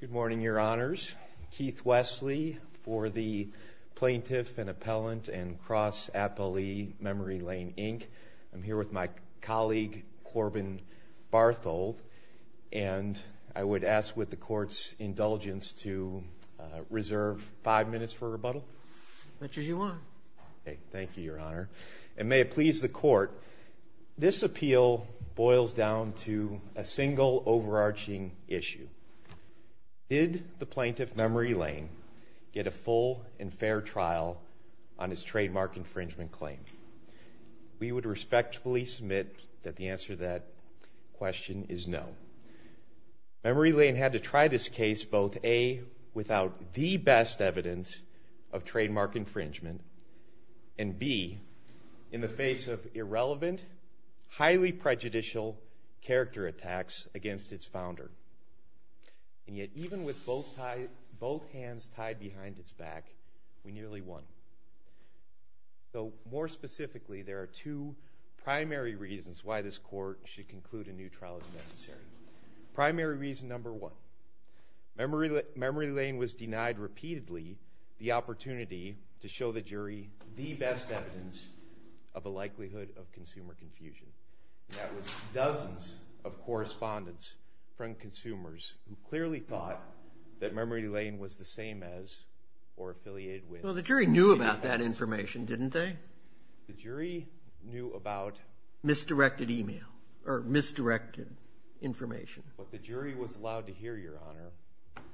Good morning, Your Honors. Keith Wesley for the Plaintiff and Appellant and Cross Appellee Memory Lane, Inc. I'm here with my colleague, Corbin Barthold, and I would ask with the Court's indulgence to reserve five minutes for rebuttal. As much as you want. Thank you, Your Honor. And may it please the Court, this appeal boils down to a single overarching issue. Did the Plaintiff, Memory Lane, get a full and fair trial on his trademark infringement claim? We would respectfully submit that the answer to that question is no. Memory Lane had to try this case both a. without the best evidence of trademark infringement and b. in the face of irrelevant, highly prejudicial character attacks against its founder. And yet, even with both hands tied behind its back, we nearly won. So, more specifically, there are two primary reasons why this Court should conclude a new trial as necessary. Primary reason number one, Memory Lane was denied repeatedly the opportunity to show the jury the best evidence of a likelihood of consumer confusion. That was dozens of correspondents from consumers who clearly thought that Memory Lane was the same as or affiliated with. Well, the jury knew about that information, didn't they? The jury knew about... Misdirected email, or misdirected information. What the jury was allowed to hear, Your Honor,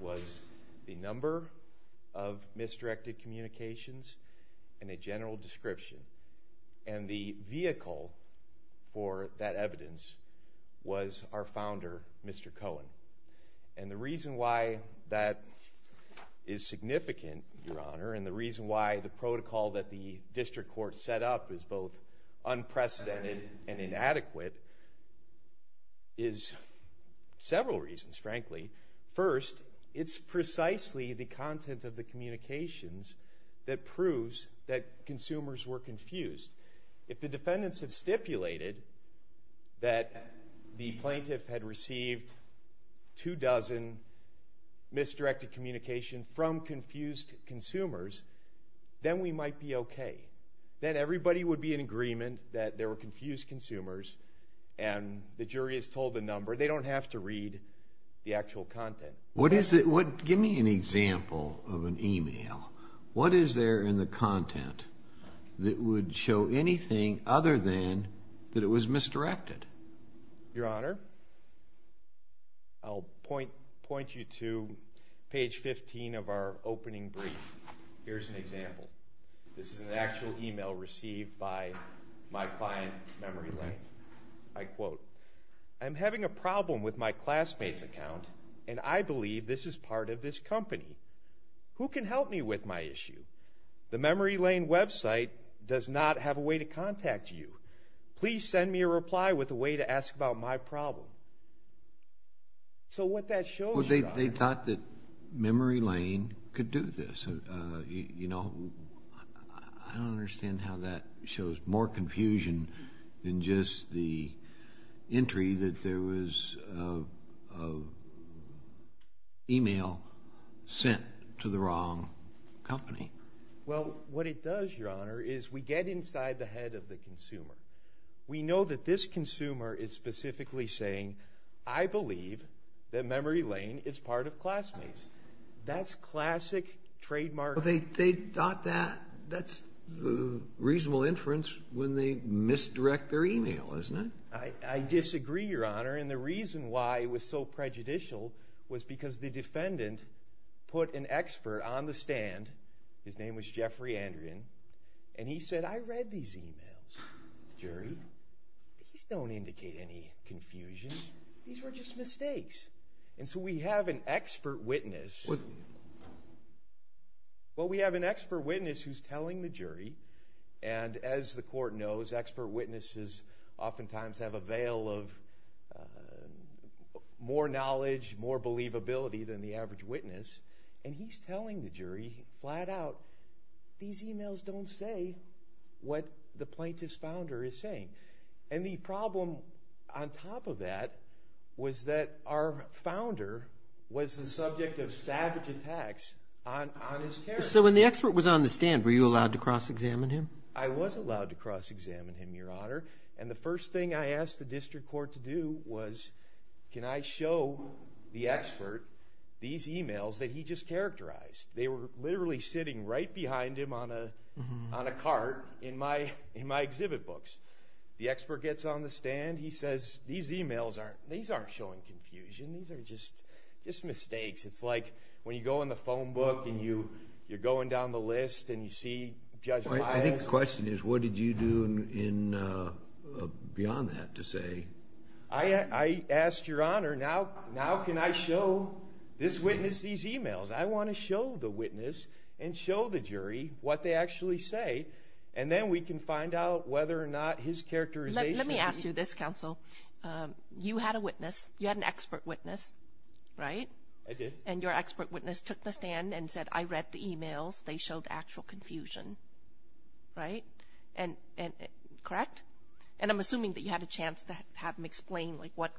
was the number of misdirected communications and a general description. And the vehicle for that evidence was our founder, Mr. Cohen. And the reason why that is significant, Your Honor, and the reason why the protocol that the District Court set up is both unprecedented and inadequate is several reasons, frankly. First, it's precisely the content of the communications that proves that consumers were confused. If the defendants had stipulated that the plaintiff had received two dozen misdirected communications from confused consumers, then we might be okay. Then everybody would be in agreement that they were confused consumers and the jury is told the number. They don't have to read the actual content. What is it... Give me an example of an email. What is there in the content that would show anything other than that it was misdirected? Your Honor, I'll point you to page 15 of our opening brief. Here's an example. This is an actual email received by my client, Memory Lane. I quote, I'm having a problem with my classmate's account and I believe this is part of this company. Who can help me with my issue? The Memory Lane website does not have a way to contact you. Please send me a reply with a way to ask about my problem. So what that shows, Your Honor... They thought that Memory Lane could do this. You know, I don't understand how that shows more confusion than just the entry that there was of email sent to the wrong company. Well, what it does, Your Honor, is we get inside the head of the consumer. We know that this consumer is specifically saying, I believe that Memory Lane is part of Classmates. That's classic trademark... They thought that's the reasonable inference when they misdirect their email, isn't it? I disagree, Your Honor, and the reason why it was so prejudicial was because the defendant put an expert on the stand, his name was Jeffrey Andrian, and he said, I read these emails, the jury. These don't indicate any confusion. These were just mistakes. And so we have an expert witness. Well, we have an expert witness who's telling the jury, and as the court knows, expert witnesses oftentimes have a veil of more knowledge, more believability than the average witness, and he's telling the jury flat out, these emails don't say what the plaintiff's founder is saying. And the problem on top of that was that our founder was the subject of savage attacks on his parents. So when the expert was on the stand, were you allowed to cross-examine him? I was allowed to cross-examine him, Your Honor, and the first thing I asked the district court to do was, can I show the expert these emails that he just characterized? They were literally sitting right behind him on a cart in my exhibit books. The expert gets on the stand, he says, these emails aren't, these aren't showing confusion. These are just mistakes. It's like when you go in the phone book and you're going down the list and you see Judge Miles. I think the question is, what did you do beyond that to say? I asked, Your Honor, now can I show this witness these emails? I want to show the witness and show the jury what they actually say, and then we can find out whether or not his characterization Let me ask you this, counsel. You had a witness. You had an expert witness, right? I did. And your expert witness took the stand and said, I read the emails. They showed actual confusion, right? Correct? And I'm assuming that you had a chance to have him explain like what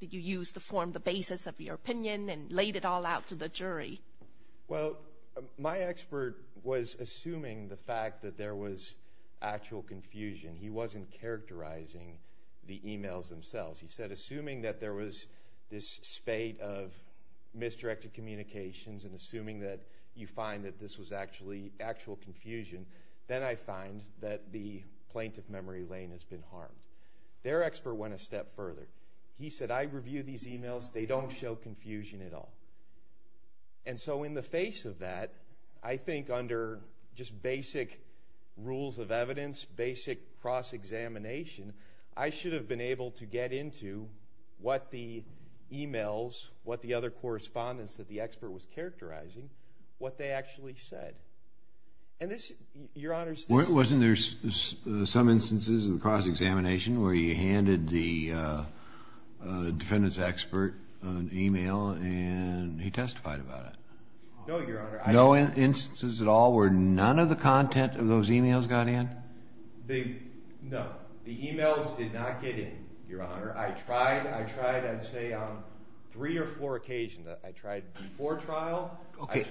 did you use to form the basis of your opinion and laid it all out to the jury. Well, my expert was assuming the fact that there was actual confusion. He wasn't characterizing the emails themselves. He said, assuming that there was this spate of misdirected communications and assuming that you find that this was actually actual confusion, then I find that the plaintiff memory lane has been harmed. Their expert went a step further. He said, I reviewed these emails. They don't show confusion at all. And so in the face of that, I think under just basic rules of evidence, basic cross-examination, I should have been able to get into what the emails, what the other correspondents that the expert was characterizing, what they actually said. And this, Your Honor, wasn't there some instances in the cross-examination where he handed the defendant's expert an email and he testified about it? No, Your Honor. No instances at all where none of the content of those emails got in? No, the emails did not get in, Your Honor. I tried, I'd say on three or four occasions. I tried before trial. Okay,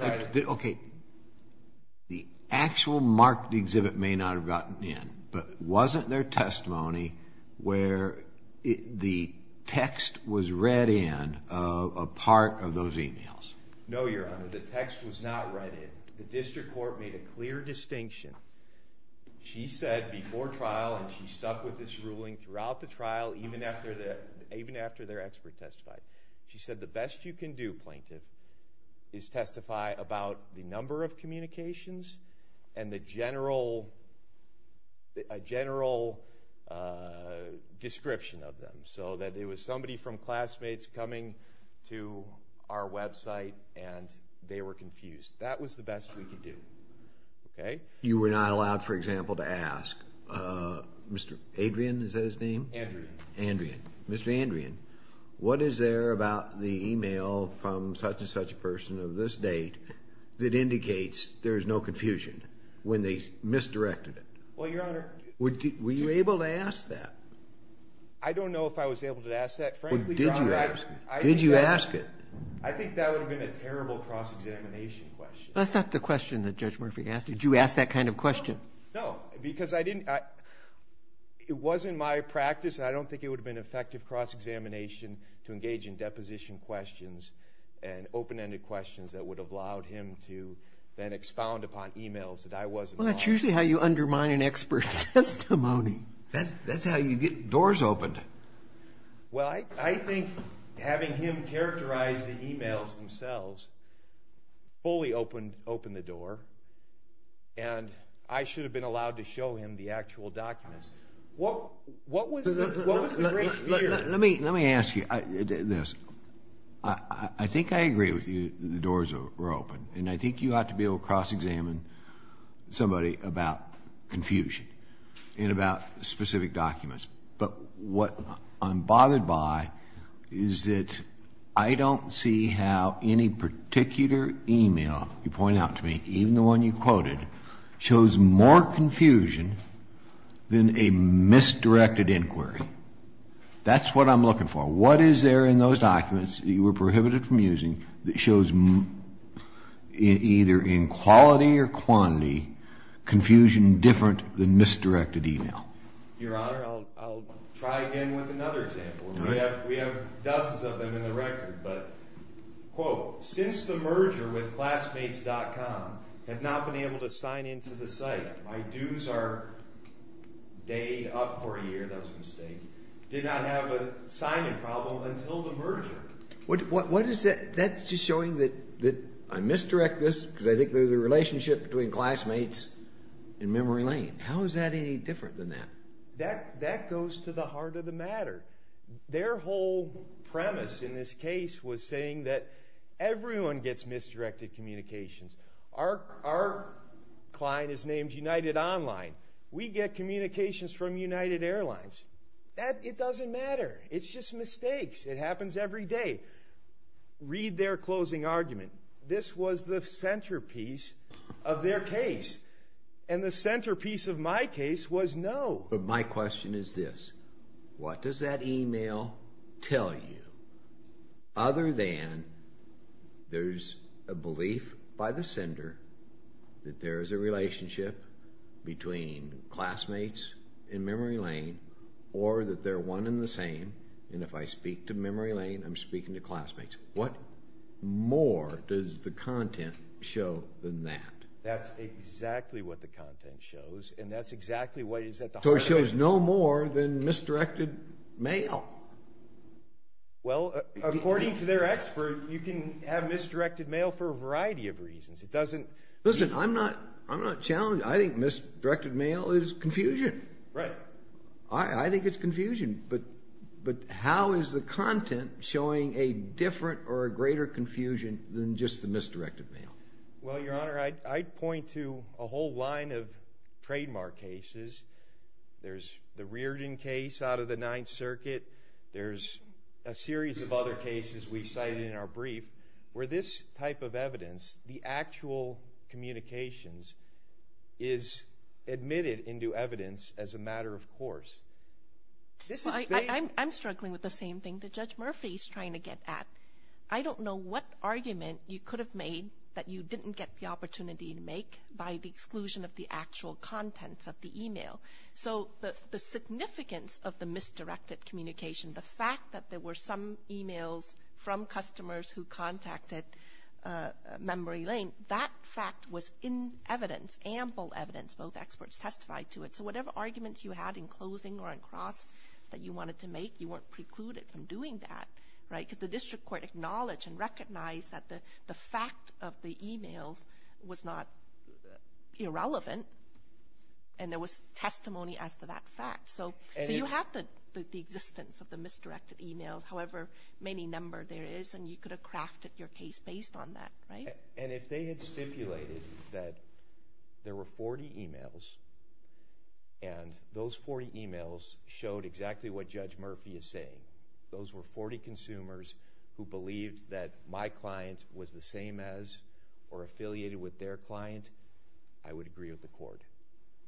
the actual marked exhibit may not have gotten in, but wasn't there testimony where the text was read in a part of those emails? No, Your Honor, the text was not read in. The district court made a clear distinction. She said before trial, and she stuck with this ruling throughout the trial, even after their expert testified. She said the best you can do, plaintiff, is testify about the number of communications and the general description of them, so that it was somebody from classmates coming to our website and they were confused. That was the best we could do. Okay? You were not allowed, for example, to ask, Mr. Adrian, is that his name? Andrean. Andrean. Mr. Andrean, what is there about the email from such and such a person of this date that indicates there is no confusion when they misdirected it? Well, Your Honor. Were you able to ask that? I don't know if I was able to ask that, frankly, Your Honor. Did you ask it? I think that would have been a terrible cross-examination question. That's not the question that Judge Murphy asked you. Did you ask that kind of question? No, because it wasn't my practice, and I don't think it would have been effective cross-examination to engage in deposition questions and open-ended questions that would have allowed him to then expound upon emails that I wasn't involved in. Well, that's usually how you undermine an expert's testimony. That's how you get doors opened. Well, I think having him characterize the emails themselves fully opened the door, and I should have been allowed to show him the actual documents. What was the great fear? Let me ask you this. I think I agree with you that the doors were open, and I think you ought to be able to cross-examine somebody about confusion and about specific documents. But what I'm bothered by is that I don't see how any particular email you point out to me, even the one you quoted, shows more confusion than a misdirected inquiry. That's what I'm looking for. What is there in those documents that you were prohibited from using that shows, either in quality or quantity, confusion different than misdirected email? Your Honor, I'll try again with another example. We have dozens of them in the record, but, quote, since the merger with classmates.com, I have not been able to sign into the site. My dues are day up for a year. That was a merger. That's just showing that I misdirected this because I think there's a relationship between classmates and memory lane. How is that any different than that? That goes to the heart of the matter. Their whole premise in this case was saying that everyone gets misdirected communications. Our client is named United Online. We get communications from United Airlines. It doesn't matter. It's just mistakes. It happens every day. Read their closing argument. This was the centerpiece of their case, and the centerpiece of my case was no. But my question is this. What does that email tell you other than there's a belief by the sender that there's a relationship between classmates and memory lane, or that they're one and the same, and if I speak to memory lane, I'm speaking to classmates? What more does the content show than that? That's exactly what the content shows, and that's exactly what is at the heart of it. So it shows no more than misdirected mail? Well, according to their expert, you can have misdirected mail for a variety of reasons. It doesn't be... Listen, I'm not challenged. I think misdirected mail is confusion. Right. I think it's confusion, but how is the content showing a different or a greater confusion than just the misdirected mail? Well, Your Honor, I'd point to a whole line of trademark cases. There's the Reardon case out of the Ninth Circuit. There's a series of other cases we cited in our brief where this type of evidence, the actual communications, is admitted into evidence as a matter of course. I'm struggling with the same thing that Judge Murphy's trying to get at. I don't know what argument you could have made that you didn't get the opportunity to make by the exclusion of the actual contents of the email. So the significance of the misdirected communication, the fact that there were some emails from customers who contacted Memory Lane, that fact was in evidence, ample evidence. Both experts testified to it. So whatever arguments you had in closing or in cross that you wanted to make, you weren't precluded from doing that, right? Because the district court acknowledged and recognized that the email was not irrelevant, and there was testimony as to that fact. So you have the existence of the misdirected emails, however many number there is, and you could have crafted your case based on that, right? And if they had stipulated that there were 40 emails, and those 40 emails showed exactly what Judge Murphy is saying, those were 40 consumers who believed that my client was the same as or affiliated with their client, I would agree with the court.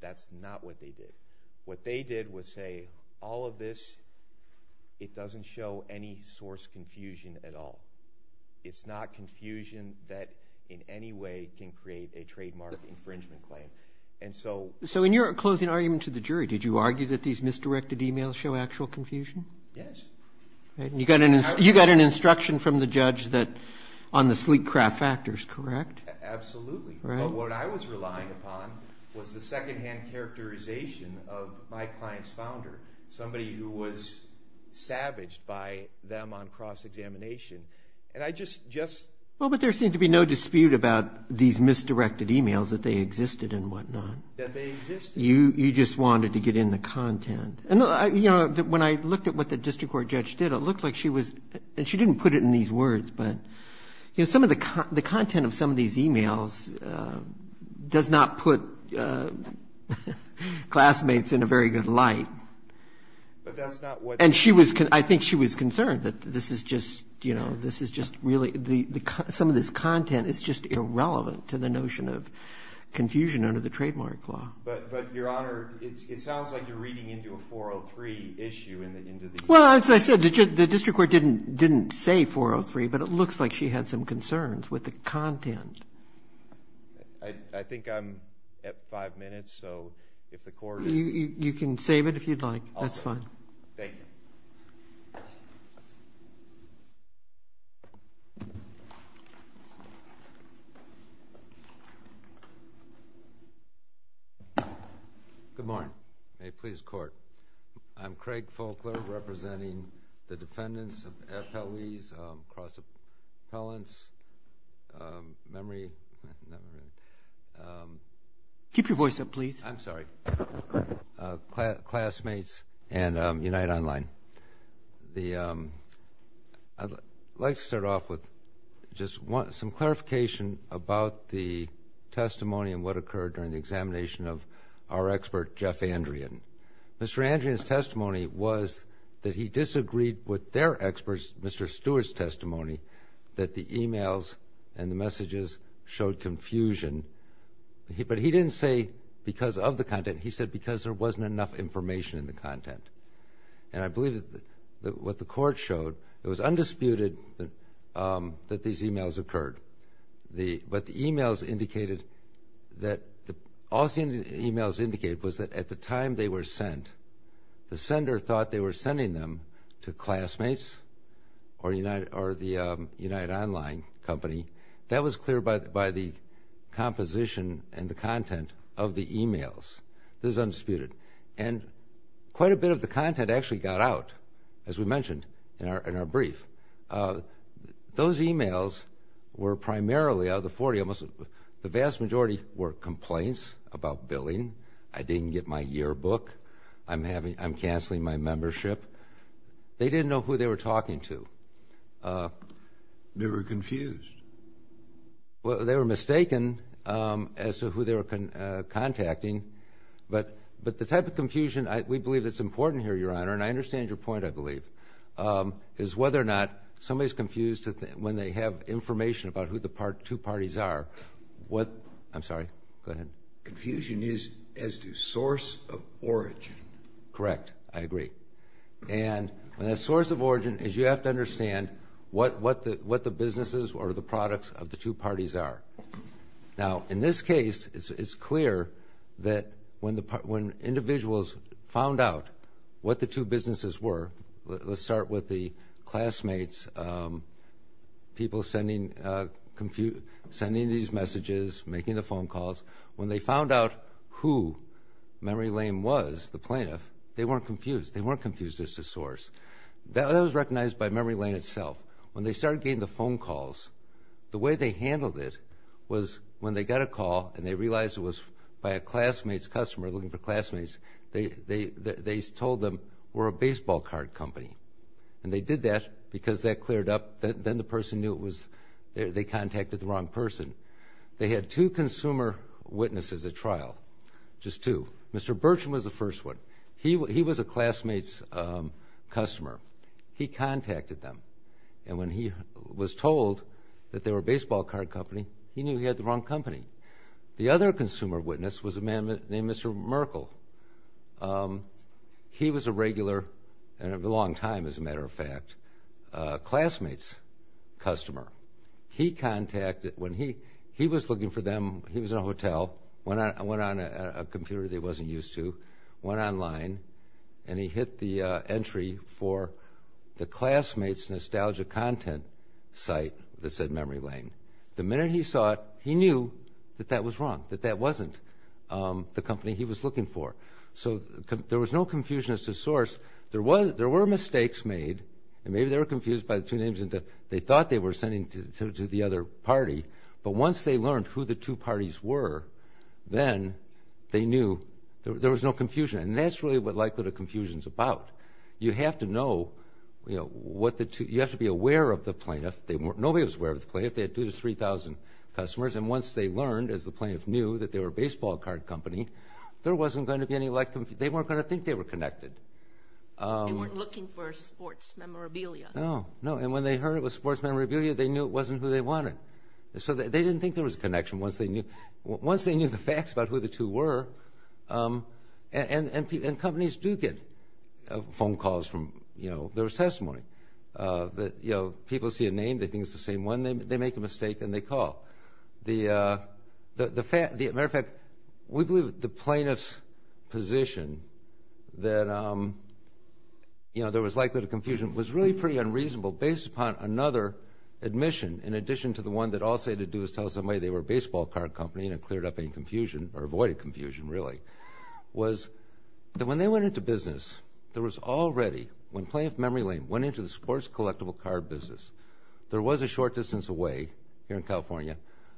That's not what they did. What they did was say, all of this, it doesn't show any source confusion at all. It's not confusion that in any way can create a trademark infringement claim. And so... So in your closing argument to the jury, did you argue that these were misdirected emails? You had an instruction from the judge that, on the sleek craft factors, correct? Absolutely. But what I was relying upon was the secondhand characterization of my client's founder, somebody who was savaged by them on cross-examination. And I just... Well, but there seemed to be no dispute about these misdirected emails, that they existed and whatnot. That they existed. You just wanted to get in the content. And, you know, when I looked at what the district court judge did, it looked like she was, and she didn't put it in these words, but, you know, some of the content of some of these emails does not put classmates in a very good light. But that's not what... And she was, I think she was concerned that this is just, you know, this is just really, some of this content is just irrelevant to the notion of confusion under the trademark law. But, Your Honor, it sounds like you're reading into a 403 issue in the end of the... Well, as I said, the district court didn't say 403, but it looks like she had some concerns with the content. I think I'm at five minutes, so if the court... You can save it if you'd like. That's fine. Good morning. May it please the court. I'm Craig Folkler, representing the defendants of FLE's cross appellants, memory... Keep your voice up, please. I'm sorry. Classmates and Unite Online. I'd like to start off with just some clarification about the testimony and what occurred during the examination of our expert, Jeff Andrian. Mr. Andrian's testimony was that he disagreed with their experts, Mr. Stewart's testimony, that the emails and the messages showed confusion. But he didn't say because of the content. He said because there wasn't enough information in the content. And I believe that what the emails indicated that... All the emails indicated was that at the time they were sent, the sender thought they were sending them to classmates or the Unite Online company. That was clear by the composition and the content of the emails. This is undisputed. And quite a bit of the content actually got out, as we mentioned in our brief. Those emails were primarily out of the 40. The vast majority were complaints about billing. I didn't get my yearbook. I'm canceling my membership. They didn't know who they were talking to. They were confused. They were mistaken as to who they were contacting. But the type of confusion, we believe it's important here, Your Honor, and I understand your point, I believe, is whether or not somebody's information about who the two parties are, what... I'm sorry. Go ahead. Confusion is as to source of origin. Correct. I agree. And the source of origin is you have to understand what the businesses or the products of the two parties are. Now, in this case, it's clear that when individuals found out what the two businesses were, let's start with the classmates, people sending these messages, making the phone calls. When they found out who Memory Lane was, the plaintiff, they weren't confused. They weren't confused as to source. That was recognized by Memory Lane itself. When they started getting the phone calls, the way they handled it was when they got a call and they realized it was by a classmate's customer looking for classmates, they told them, we're a baseball card company. And they did that because that cleared up. Then the person knew it was... they contacted the wrong person. They had two consumer witnesses at trial, just two. Mr. Burcham was the first one. He was a classmate's customer. He contacted them. And when he was told that they were a baseball card company, he knew he had the wrong person. Mr. Merkel, he was a regular, and for a long time as a matter of fact, classmate's customer. He contacted... when he... he was looking for them. He was in a hotel, went on a computer that he wasn't used to, went online, and he hit the entry for the classmate's nostalgia content site that said Memory Lane. The minute he saw it, he knew that that was not the company he was looking for. So there was no confusion as to source. There were mistakes made, and maybe they were confused by the two names that they thought they were sending to the other party. But once they learned who the two parties were, then they knew... there was no confusion. And that's really what likelihood of confusion is about. You have to know what the two... you have to be aware of the plaintiff. Nobody was aware of the plaintiff. They had 2,000 to 3,000 customers. And once they learned, as the plaintiff knew, that they were a baseball card company, there wasn't going to be any... they weren't going to think they were connected. They weren't looking for sports memorabilia. No, no. And when they heard it was sports memorabilia, they knew it wasn't who they wanted. So they didn't think there was a connection once they knew... once they knew the facts about who the two were. And companies do get phone calls from... you know, there was testimony that people see a name, they think it's the same one, they make a mistake and they call. The matter of fact, we believe the plaintiff's position that, you know, there was likelihood of confusion was really pretty unreasonable based upon another admission, in addition to the one that all they had to do was tell somebody they were a baseball card company and it cleared up any confusion, or avoided confusion really, was that when they went into business, there was already... when Plaintiff Memory Lane went into the sports collectible card business, there was a short distance away, here in California,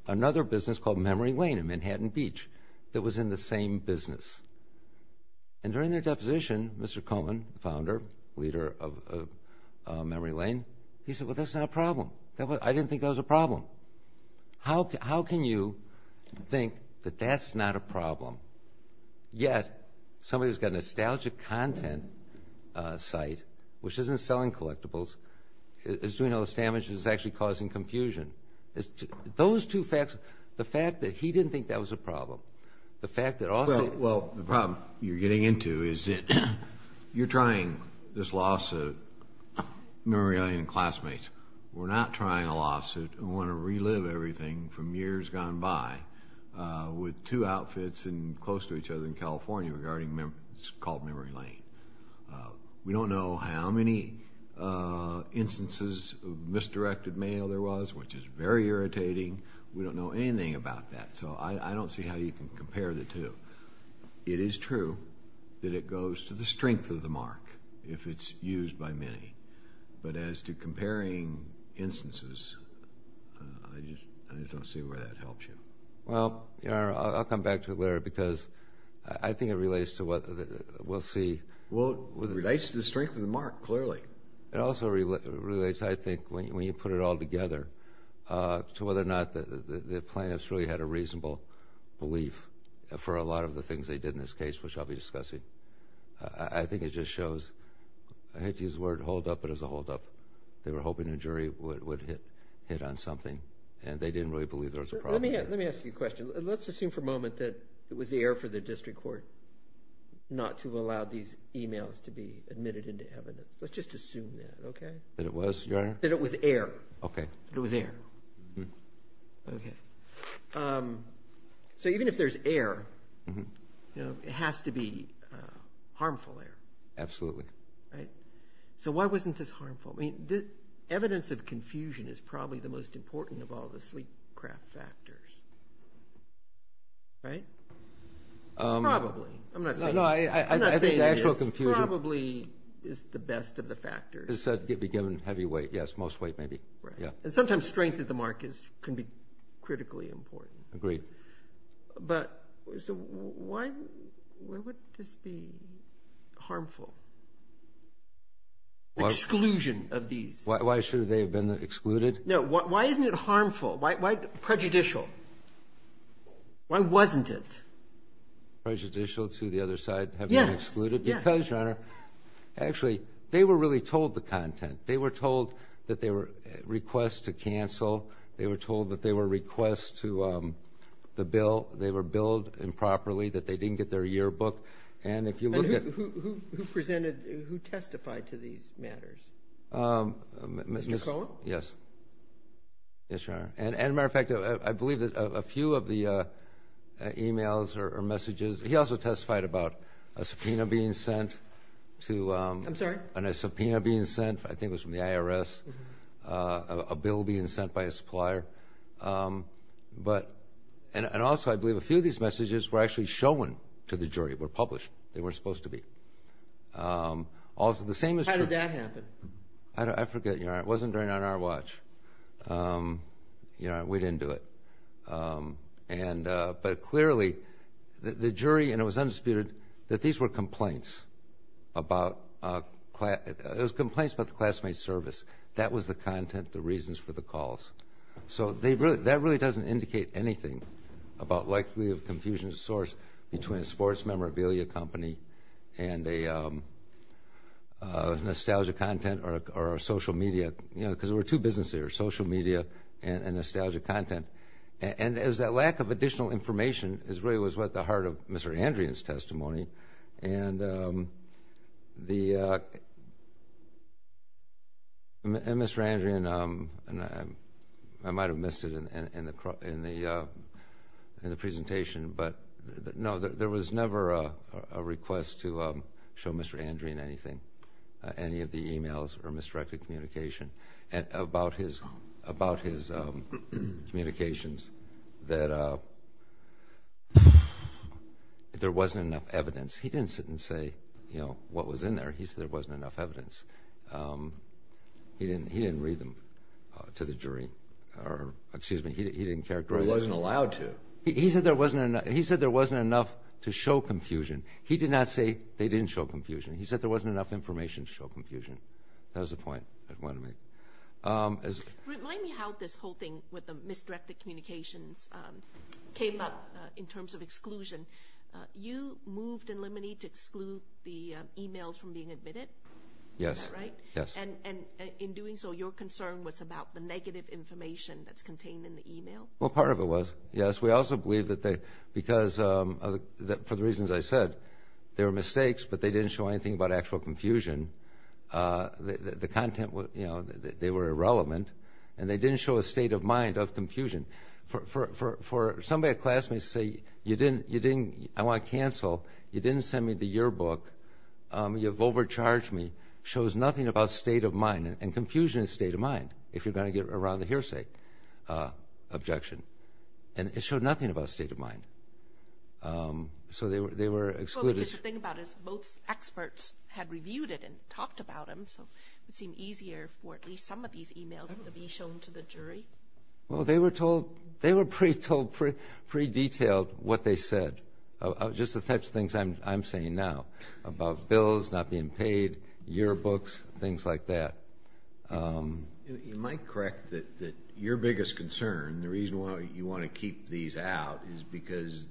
another business called Memory Lane in Manhattan Beach, that was in the same business. And during their deposition, Mr. Cohen, founder, leader of Memory Lane, he said, well, that's not a problem. I didn't think that was a problem. How can you think that that's not a problem? Yet, somebody who's got a nostalgia content site, which isn't selling collectibles, is doing two facts, the fact that he didn't think that was a problem, the fact that also... Well, the problem you're getting into is that you're trying this lawsuit, Memory Lane and Classmates. We're not trying a lawsuit. We want to relive everything from years gone by with two outfits and close to each other in California regarding, it's called Memory Lane. We don't know how many instances of misdirected mail there was, which is very irritating. We don't know anything about that. So I don't see how you can compare the two. It is true that it goes to the strength of the mark if it's used by many. But as to comparing instances, I just don't see where that helps you. Well, I'll come back to it later because I think it relates to what we'll see. Well, it relates to the strength of the mark, clearly. It also relates, I think, when you put it all together, to whether or not the plaintiffs really had a reasonable belief for a lot of the things they did in this case, which I'll be discussing. I think it just shows, I hate to use the word hold up, but it was a hold up. They were hoping a jury would hit on something, and they didn't really believe there was a problem. Let me ask you a question. Let's assume for a moment that it was the error for the District Court not to allow these emails to be admitted into evidence. Let's just assume that, okay? That it was, Your Honor? That it was error. Okay. That it was error. Okay. So even if there's error, it has to be harmful error. Absolutely. Right? So why wasn't this harmful? I mean, evidence of confusion is probably the most I'm not saying it is. No, no. I think the actual confusion- Probably is the best of the factors. Is said to be given heavy weight. Yes. Most weight, maybe. Yeah. Right. And sometimes strength of the mark can be critically important. Agreed. But so why would this be harmful? Exclusion of these. Why should they have been excluded? No. Why isn't it harmful? Why prejudicial? Why wasn't it? Prejudicial to the other side having been excluded? Yes. Yes. Because, Your Honor, actually, they were really told the content. They were told that they were requests to cancel. They were told that they were requests to the bill. They were billed improperly, that they didn't get their yearbook. And if you look at- And who presented, who testified to these matters? Mr. Cohn? Yes. Yes, Your Honor. And, as a matter of fact, I believe that a few of the e-mails or messages- he also testified about a subpoena being sent to- I'm sorry? And a subpoena being sent, I think it was from the IRS, a bill being sent by a supplier. And also, I believe, a few of these messages were actually shown to the jury, were published. They weren't supposed to be. Also, the same as- How did that happen? I forget, Your Honor. It wasn't during on our watch. Your Honor, we didn't do it. But clearly, the jury, and it was undisputed, that these were complaints about- it was complaints about the classmate service. That was the content, the reasons for the calls. So that really doesn't indicate anything about likely of confusion between a sports memorabilia company and a nostalgia content or a social media- because there were two businesses there, social media and nostalgia content. And it was that lack of additional information really was at the heart of Mr. Andrian's testimony. And Mr. Andrian, I might have missed it in the presentation, but no, there was never a request to show Mr. Andrian anything, any of the emails or misdirected communication about his communications, that there wasn't enough evidence. He didn't sit and say, you know, what was in there. He said there wasn't enough evidence. He didn't read them to the jury. Or excuse me, he didn't characterize them. He wasn't allowed to. Right. He said there wasn't enough to show confusion. He did not say they didn't show confusion. He said there wasn't enough information to show confusion. That was the point I wanted to make. Remind me how this whole thing with the misdirected communications came up in terms of exclusion. You moved in Limonide to exclude the emails from being admitted? Yes. Is that right? Yes. And in doing so, your concern was about the negative information that's contained in the email? Well, part of it was, yes. We also believe that because for the reasons I said, there were mistakes, but they didn't show anything about actual confusion. The content was, you know, they were irrelevant. And they didn't show a state of mind of confusion. For somebody, a classmate, to say, I want to cancel, you didn't send me the yearbook, you've overcharged me, shows nothing about state of mind. And confusion is state of mind if you're going to get around a hearsay objection. And it showed nothing about state of mind. So they were excluded. Well, because the thing about it is both experts had reviewed it and talked about them, so it would seem easier for at least some of these emails to be shown to the jury. Well, they were told, they were pretty detailed what they said, just the types of things I'm saying now about bills not being paid, yearbooks, things like that. You might correct that your biggest concern, the reason why you want to keep these out, is because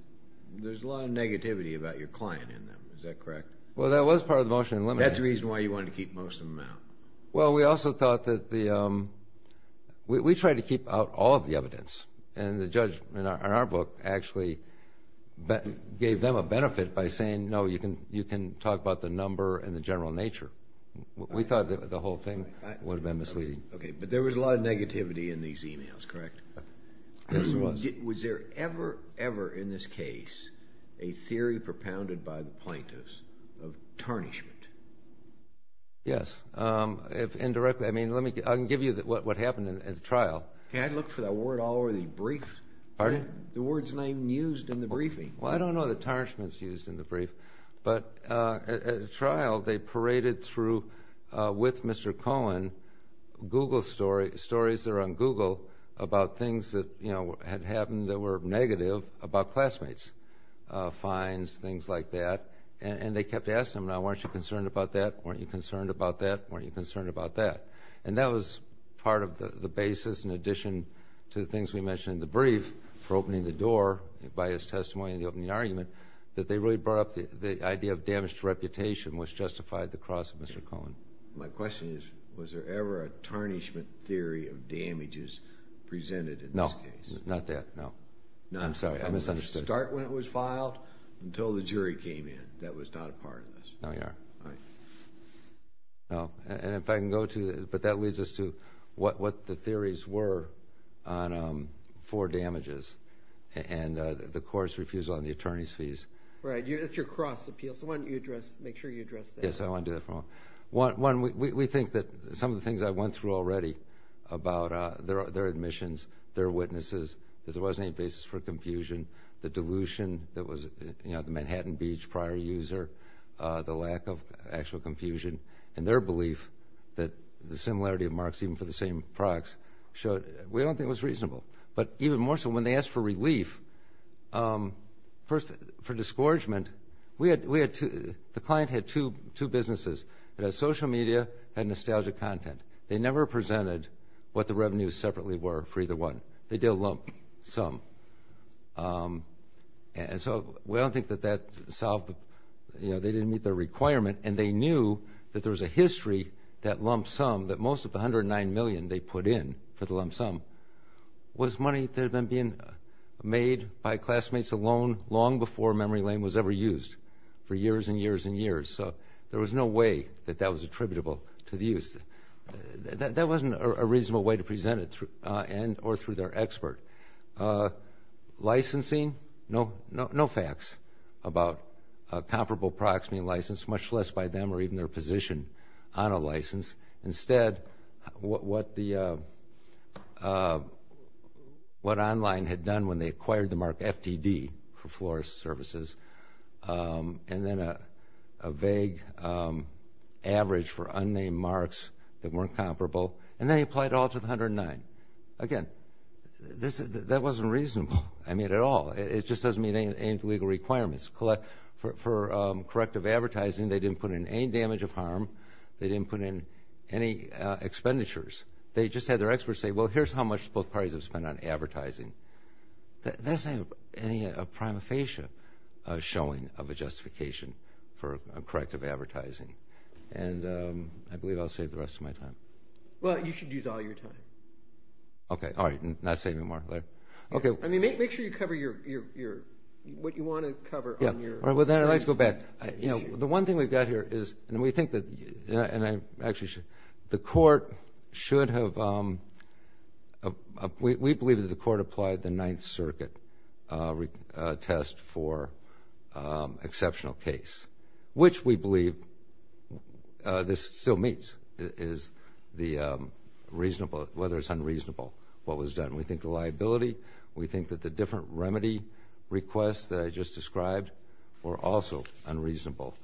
there's a lot of negativity about your client in them. Is that correct? Well, that was part of the motion. That's the reason why you wanted to keep most of them out. Well, we also thought that the ‑‑ we tried to keep out all of the evidence. And the judge in our book actually gave them a benefit by saying, no, you can talk about the number and the general nature. We thought the whole thing would have been misleading. Okay. But there was a lot of negativity in these emails, correct? Yes, there was. Was there ever, ever in this case a theory propounded by the plaintiffs of tarnishment? Yes. Indirectly. I mean, let me give you what happened at the trial. Can I look for that word all over the brief? Pardon? The word's name used in the briefing. Well, I don't know that tarnishment's used in the brief. But at the trial, they paraded through, with Mr. Cohen, Google stories, stories that are on Google about things that, you know, had happened that were negative about classmates, fines, things like that. And they kept asking him, now, weren't you concerned about that? Weren't you concerned about that? Weren't you concerned about that? And that was part of the basis in addition to the things we mentioned in the brief for opening the door by his testimony in the opening argument, that they really brought up the idea of damage to reputation, which justified the cross of Mr. Cohen. My question is, was there ever a tarnishment theory of damages presented in this case? No, not that. No. I'm sorry, I misunderstood. It didn't start when it was filed until the jury came in. That was not a part of this. No, you are. All right. No. And if I can go to, but that leads us to what the theories were for damages. And the courts refused on the attorney's fees. Right. That's your cross appeal. So why don't you address, make sure you address that. Yes, I want to do that from home. One, we think that some of the things I went through already about their admissions, their witnesses, that there wasn't any basis for confusion, the delusion that was, you know, the Manhattan Beach prior user, the lack of actual confusion, and their belief that the similarity of marks even for the same products showed, we don't think it was reasonable. But even more so, when they asked for relief, first, for discouragement, we had two, the client had two businesses that had social media, had nostalgic content. They never presented what the revenues separately were for either one. They did a lump sum. And so we don't think that that solved, you know, they didn't meet their requirement, and they knew that there was a history, that lump sum, that most of the $109 million they put in for the lump sum was money that had been made by classmates alone long before memory lane was ever used for years and years and years. So there was no way that that was attributable to the use. That wasn't a reasonable way to present it, and or through their expert. Licensing, no facts about comparable products being licensed, instead what online had done when they acquired the mark FTD for florist services, and then a vague average for unnamed marks that weren't comparable, and then they applied it all to the 109. Again, that wasn't reasonable, I mean, at all. It just doesn't meet any legal requirements. For corrective advertising, they didn't put in any damage of harm. They didn't put in any expenditures. They just had their experts say, well, here's how much both parties have spent on advertising. That doesn't have any prima facie showing of a justification for corrective advertising. And I believe I'll save the rest of my time. Well, you should use all your time. Okay. All right. I'm not saving more. Okay. I mean, make sure you cover what you want to cover. Yeah. All right. Well, then I'd like to go back. You know, the one thing we've got here is, and we think that, and I actually should, the court should have, we believe that the court applied the Ninth Circuit test for exceptional case, which we believe this still meets, is the reasonable, whether it's unreasonable, what was done. We think the liability, we think that the different remedy requests that I just described were also unreasonable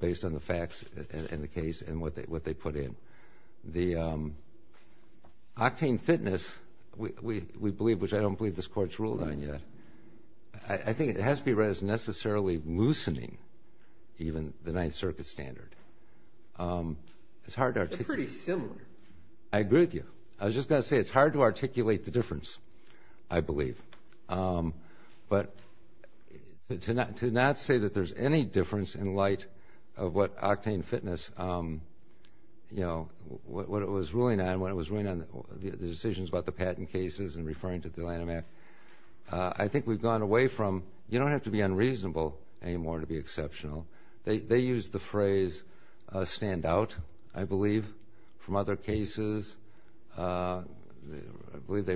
based on the facts in the case and what they put in. The octane fitness, we believe, which I don't believe this court's ruled on yet, I think it has to be read as necessarily loosening even the Ninth Circuit standard. It's hard to articulate. They're pretty similar. I agree with you. I was just going to say it's hard to articulate the difference, I believe. But to not say that there's any difference in light of what octane fitness, you know, what it was ruling on, what it was ruling on, the decisions about the patent cases and referring to the Lanham Act, I think we've gone away from, you don't have to be unreasonable anymore to be exceptional. They use the phrase stand out, I believe, from other cases. I believe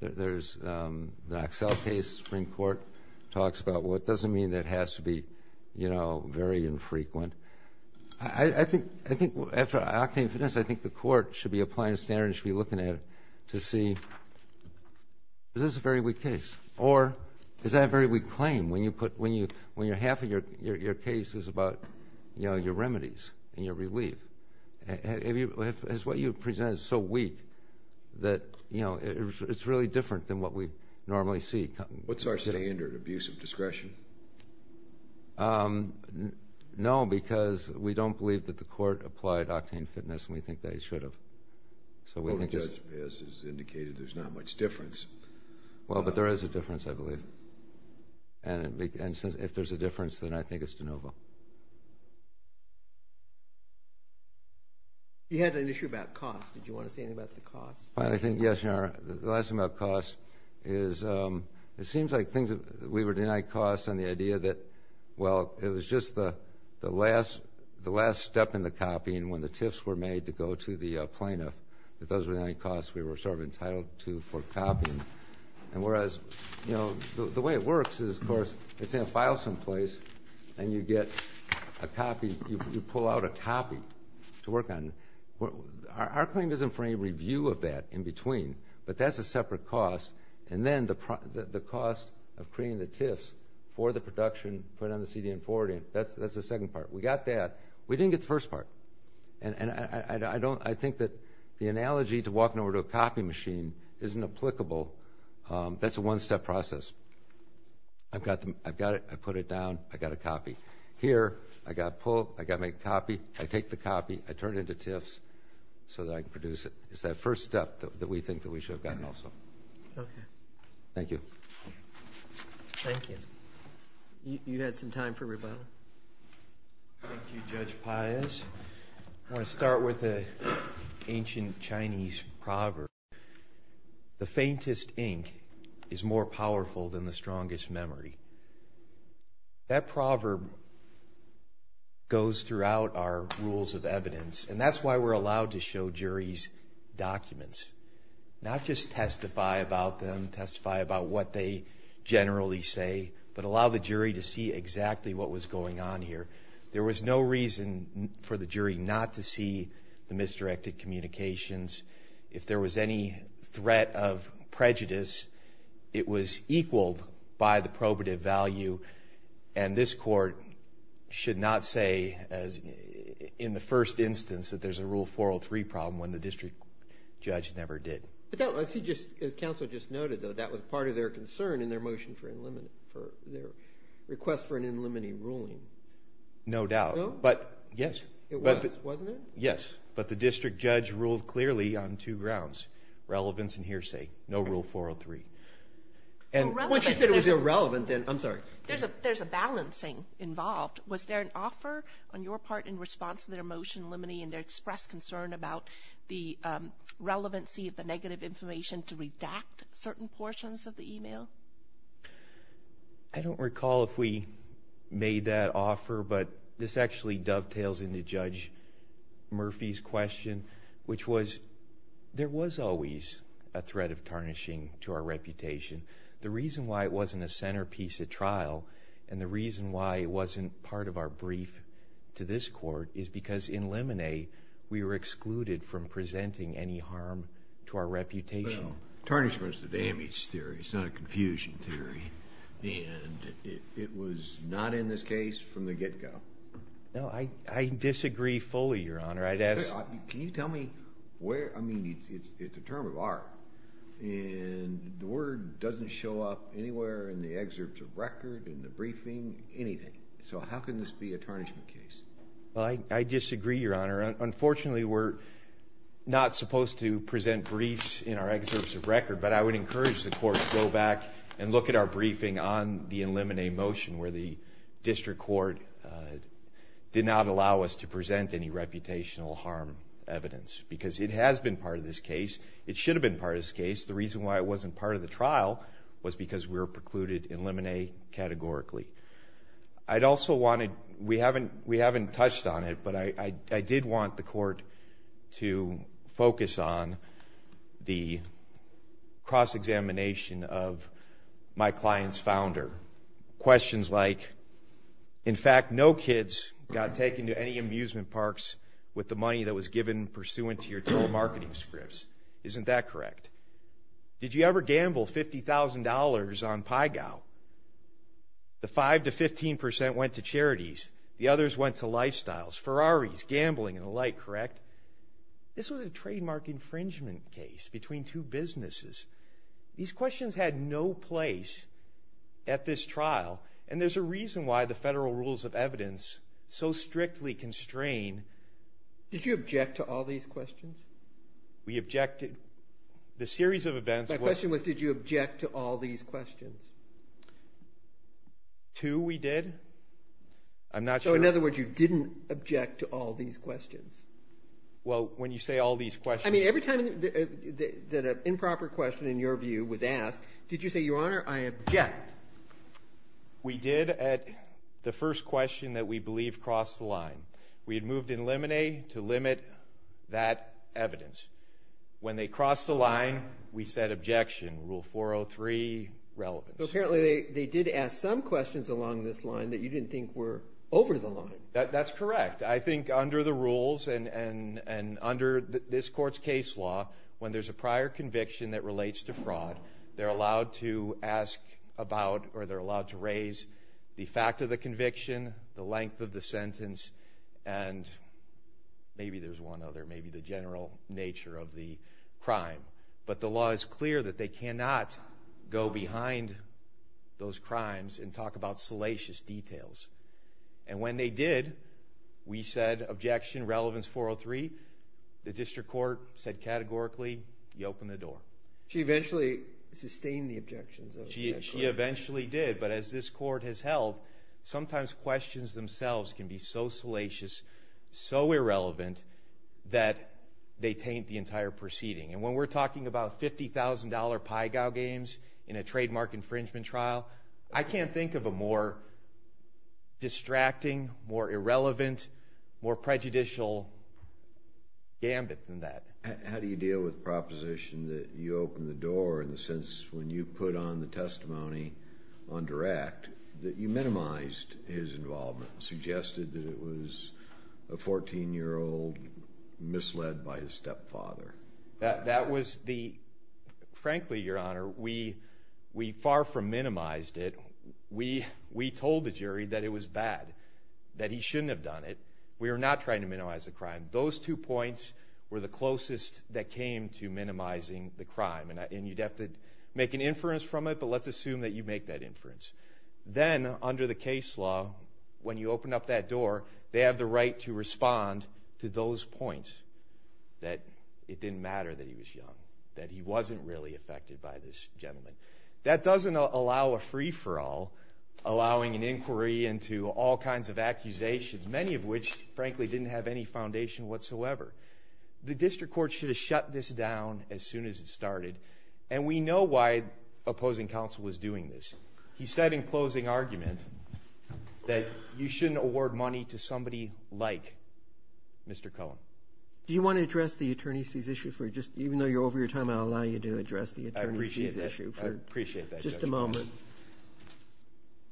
there's the Axel case, Supreme Court, talks about what doesn't mean that it has to be, you know, very infrequent. I think after octane fitness, I think the court should be applying standards, should be looking at it to see is this a very weak case or is that a very weak claim when half of your case is about, you know, your remedies and your relief. Is what you've presented so weak that, you know, it's really different than what we normally see. What's our standard? Abuse of discretion? No, because we don't believe that the court applied octane fitness and we think they should have. So we think it's... Well, the judge has indicated there's not much difference. Well, but there is a difference, I believe. And if there's a difference, then I think it's de novo. You had an issue about cost. Did you want to say anything about the cost? I think, yes, Your Honor. The last thing about cost is it seems like things that we were denied costs and the idea that, well, it was just the last step in the copying when the TIFs were made to go to the plaintiff, that those were the only costs we were sort of entitled to for copying. And whereas, you know, the way it works is, of course, it's in a file someplace and you get a copy, you pull out a copy to work on. Our claim isn't for any review of that in between, but that's a separate cost. And then the cost of creating the TIFs for the production, put it on the CD and forward it, that's the second part. We got that. We didn't get the first part. And I think that the analogy to walking over to a copy machine isn't applicable. That's a one-step process. I've got it. I put it down. I got a copy. Here, I got pulled. I got my copy. I take the copy. I turn it into TIFs so that I can produce it. It's that first step that we think that we should have gotten also. Okay. Thank you. Thank you. You had some time for rebuttal. Thank you, Judge Pius. I want to start with an ancient Chinese proverb. The faintest ink is more powerful than the strongest memory. That proverb goes throughout our rules of evidence, and that's why we're allowed to show juries documents, not just testify about them, testify about what they generally say, but allow the jury to see exactly what was going on here. There was no reason for the jury not to see the misdirected communications. If there was any threat of prejudice, it was equaled by the probative value, and this court should not say in the first instance that there's a Rule 403 problem when the district judge never did. As counsel just noted, though, that was part of their concern in their request for an in limine ruling. No doubt. No? Yes. It was, wasn't it? Yes. But the district judge ruled clearly on two grounds, relevance and hearsay. No Rule 403. Once you said it was irrelevant, then I'm sorry. There's a balancing involved. Was there an offer on your part in response to their motion limiting their express concern about the relevancy of the negative information to redact certain portions of the email? I don't recall if we made that offer, but this actually dovetails into Judge Murphy's question, which was there was always a threat of tarnishing to our reputation. The reason why it wasn't a centerpiece of trial and the reason why it wasn't part of our brief to this court is because in limine we were excluded from presenting any harm to our reputation. Well, tarnishment is a damage theory. It's not a confusion theory. And it was not in this case from the get-go. No, I disagree fully, Your Honor. Can you tell me where, I mean, it's a term of art, and the word doesn't show up anywhere in the excerpts of record, in the briefing, anything. So how can this be a tarnishment case? Well, I disagree, Your Honor. Unfortunately, we're not supposed to present briefs in our excerpts of record, but I would encourage the court to go back and look at our briefing on the in limine motion where the district court did not allow us to present any reputational harm evidence because it has been part of this case. It should have been part of this case. The reason why it wasn't part of the trial was because we were precluded in limine categorically. I'd also wanted, we haven't touched on it, but I did want the court to focus on the cross-examination of my client's founder. Questions like, in fact, no kids got taken to any amusement parks with the money that was given pursuant to your told marketing scripts. Isn't that correct? Did you ever gamble $50,000 on PyGow? The 5% to 15% went to charities. The others went to lifestyles. Ferraris, gambling, and the like, correct? This was a trademark infringement case between two businesses. These questions had no place at this trial, and there's a reason why the federal rules of evidence so strictly constrain. Did you object to all these questions? We objected. The series of events was... My question was, did you object to all these questions? Two, we did. I'm not sure... So, in other words, you didn't object to all these questions. Well, when you say all these questions... I mean, every time that an improper question, in your view, was asked, did you say, Your Honor, I object? We did at the first question that we believed crossed the line. We had moved in limine to limit that evidence. When they crossed the line, we said objection. Rule 403, relevance. Apparently they did ask some questions along this line that you didn't think were over the line. That's correct. I think under the rules and under this court's case law, when there's a prior conviction that relates to fraud, they're allowed to ask about or they're allowed to raise the fact of the conviction, the length of the sentence, and maybe there's one other, maybe the general nature of the crime. But the law is clear that they cannot go behind those crimes and talk about salacious details. And when they did, we said objection, relevance 403. The district court said categorically, you open the door. She eventually sustained the objections. She eventually did, but as this court has held, sometimes questions themselves can be so salacious, so irrelevant, that they taint the entire proceeding. And when we're talking about $50,000 Pygow games in a trademark infringement trial, I can't think of a more distracting, more irrelevant, more prejudicial gambit than that. How do you deal with the proposition that you open the door in the sense when you put on the testimony on direct that you minimized his involvement, suggested that it was a 14-year-old misled by his stepfather? That was the, frankly, Your Honor, we far from minimized it. We told the jury that it was bad, that he shouldn't have done it. We were not trying to minimize the crime. Those two points were the closest that came to minimizing the crime. And you'd have to make an inference from it, but let's assume that you make that inference. Then, under the case law, when you open up that door, they have the right to respond to those points, that it didn't matter that he was young, that he wasn't really affected by this gentleman. That doesn't allow a free-for-all, allowing an inquiry into all kinds of accusations, many of which, frankly, didn't have any foundation whatsoever. The district court should have shut this down as soon as it started, and we know why opposing counsel was doing this. He said in closing argument that you shouldn't award money to somebody like Mr. Cohen. Do you want to address the attorney's fees issue? Even though you're over your time, I'll allow you to address the attorney's fees issue. I appreciate that. Just a moment.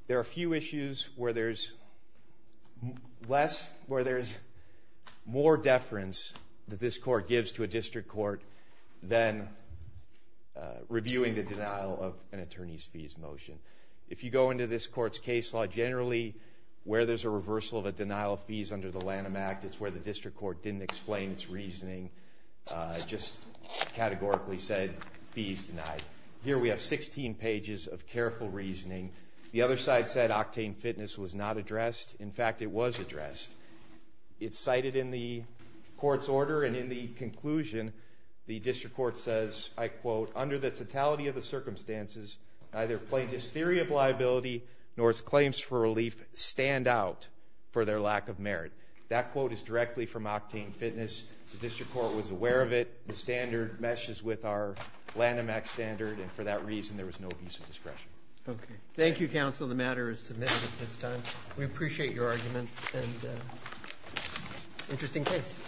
There are few issues where there's less, where there's more deference that this court gives to a district court than reviewing the denial of an attorney's fees motion. If you go into this court's case law, generally where there's a reversal of a denial of fees under the Lanham Act, it's where the district court didn't explain its reasoning, just categorically said fees denied. Here we have 16 pages of careful reasoning. The other side said octane fitness was not addressed. In fact, it was addressed. It's cited in the court's order, and in the conclusion the district court says, I quote, Under the totality of the circumstances, neither plaintiff's theory of liability nor its claims for relief stand out for their lack of merit. That quote is directly from octane fitness. The district court was aware of it. The standard meshes with our Lanham Act standard, and for that reason there was no abuse of discretion. Thank you, counsel. The matter is submitted at this time. We appreciate your arguments and interesting case.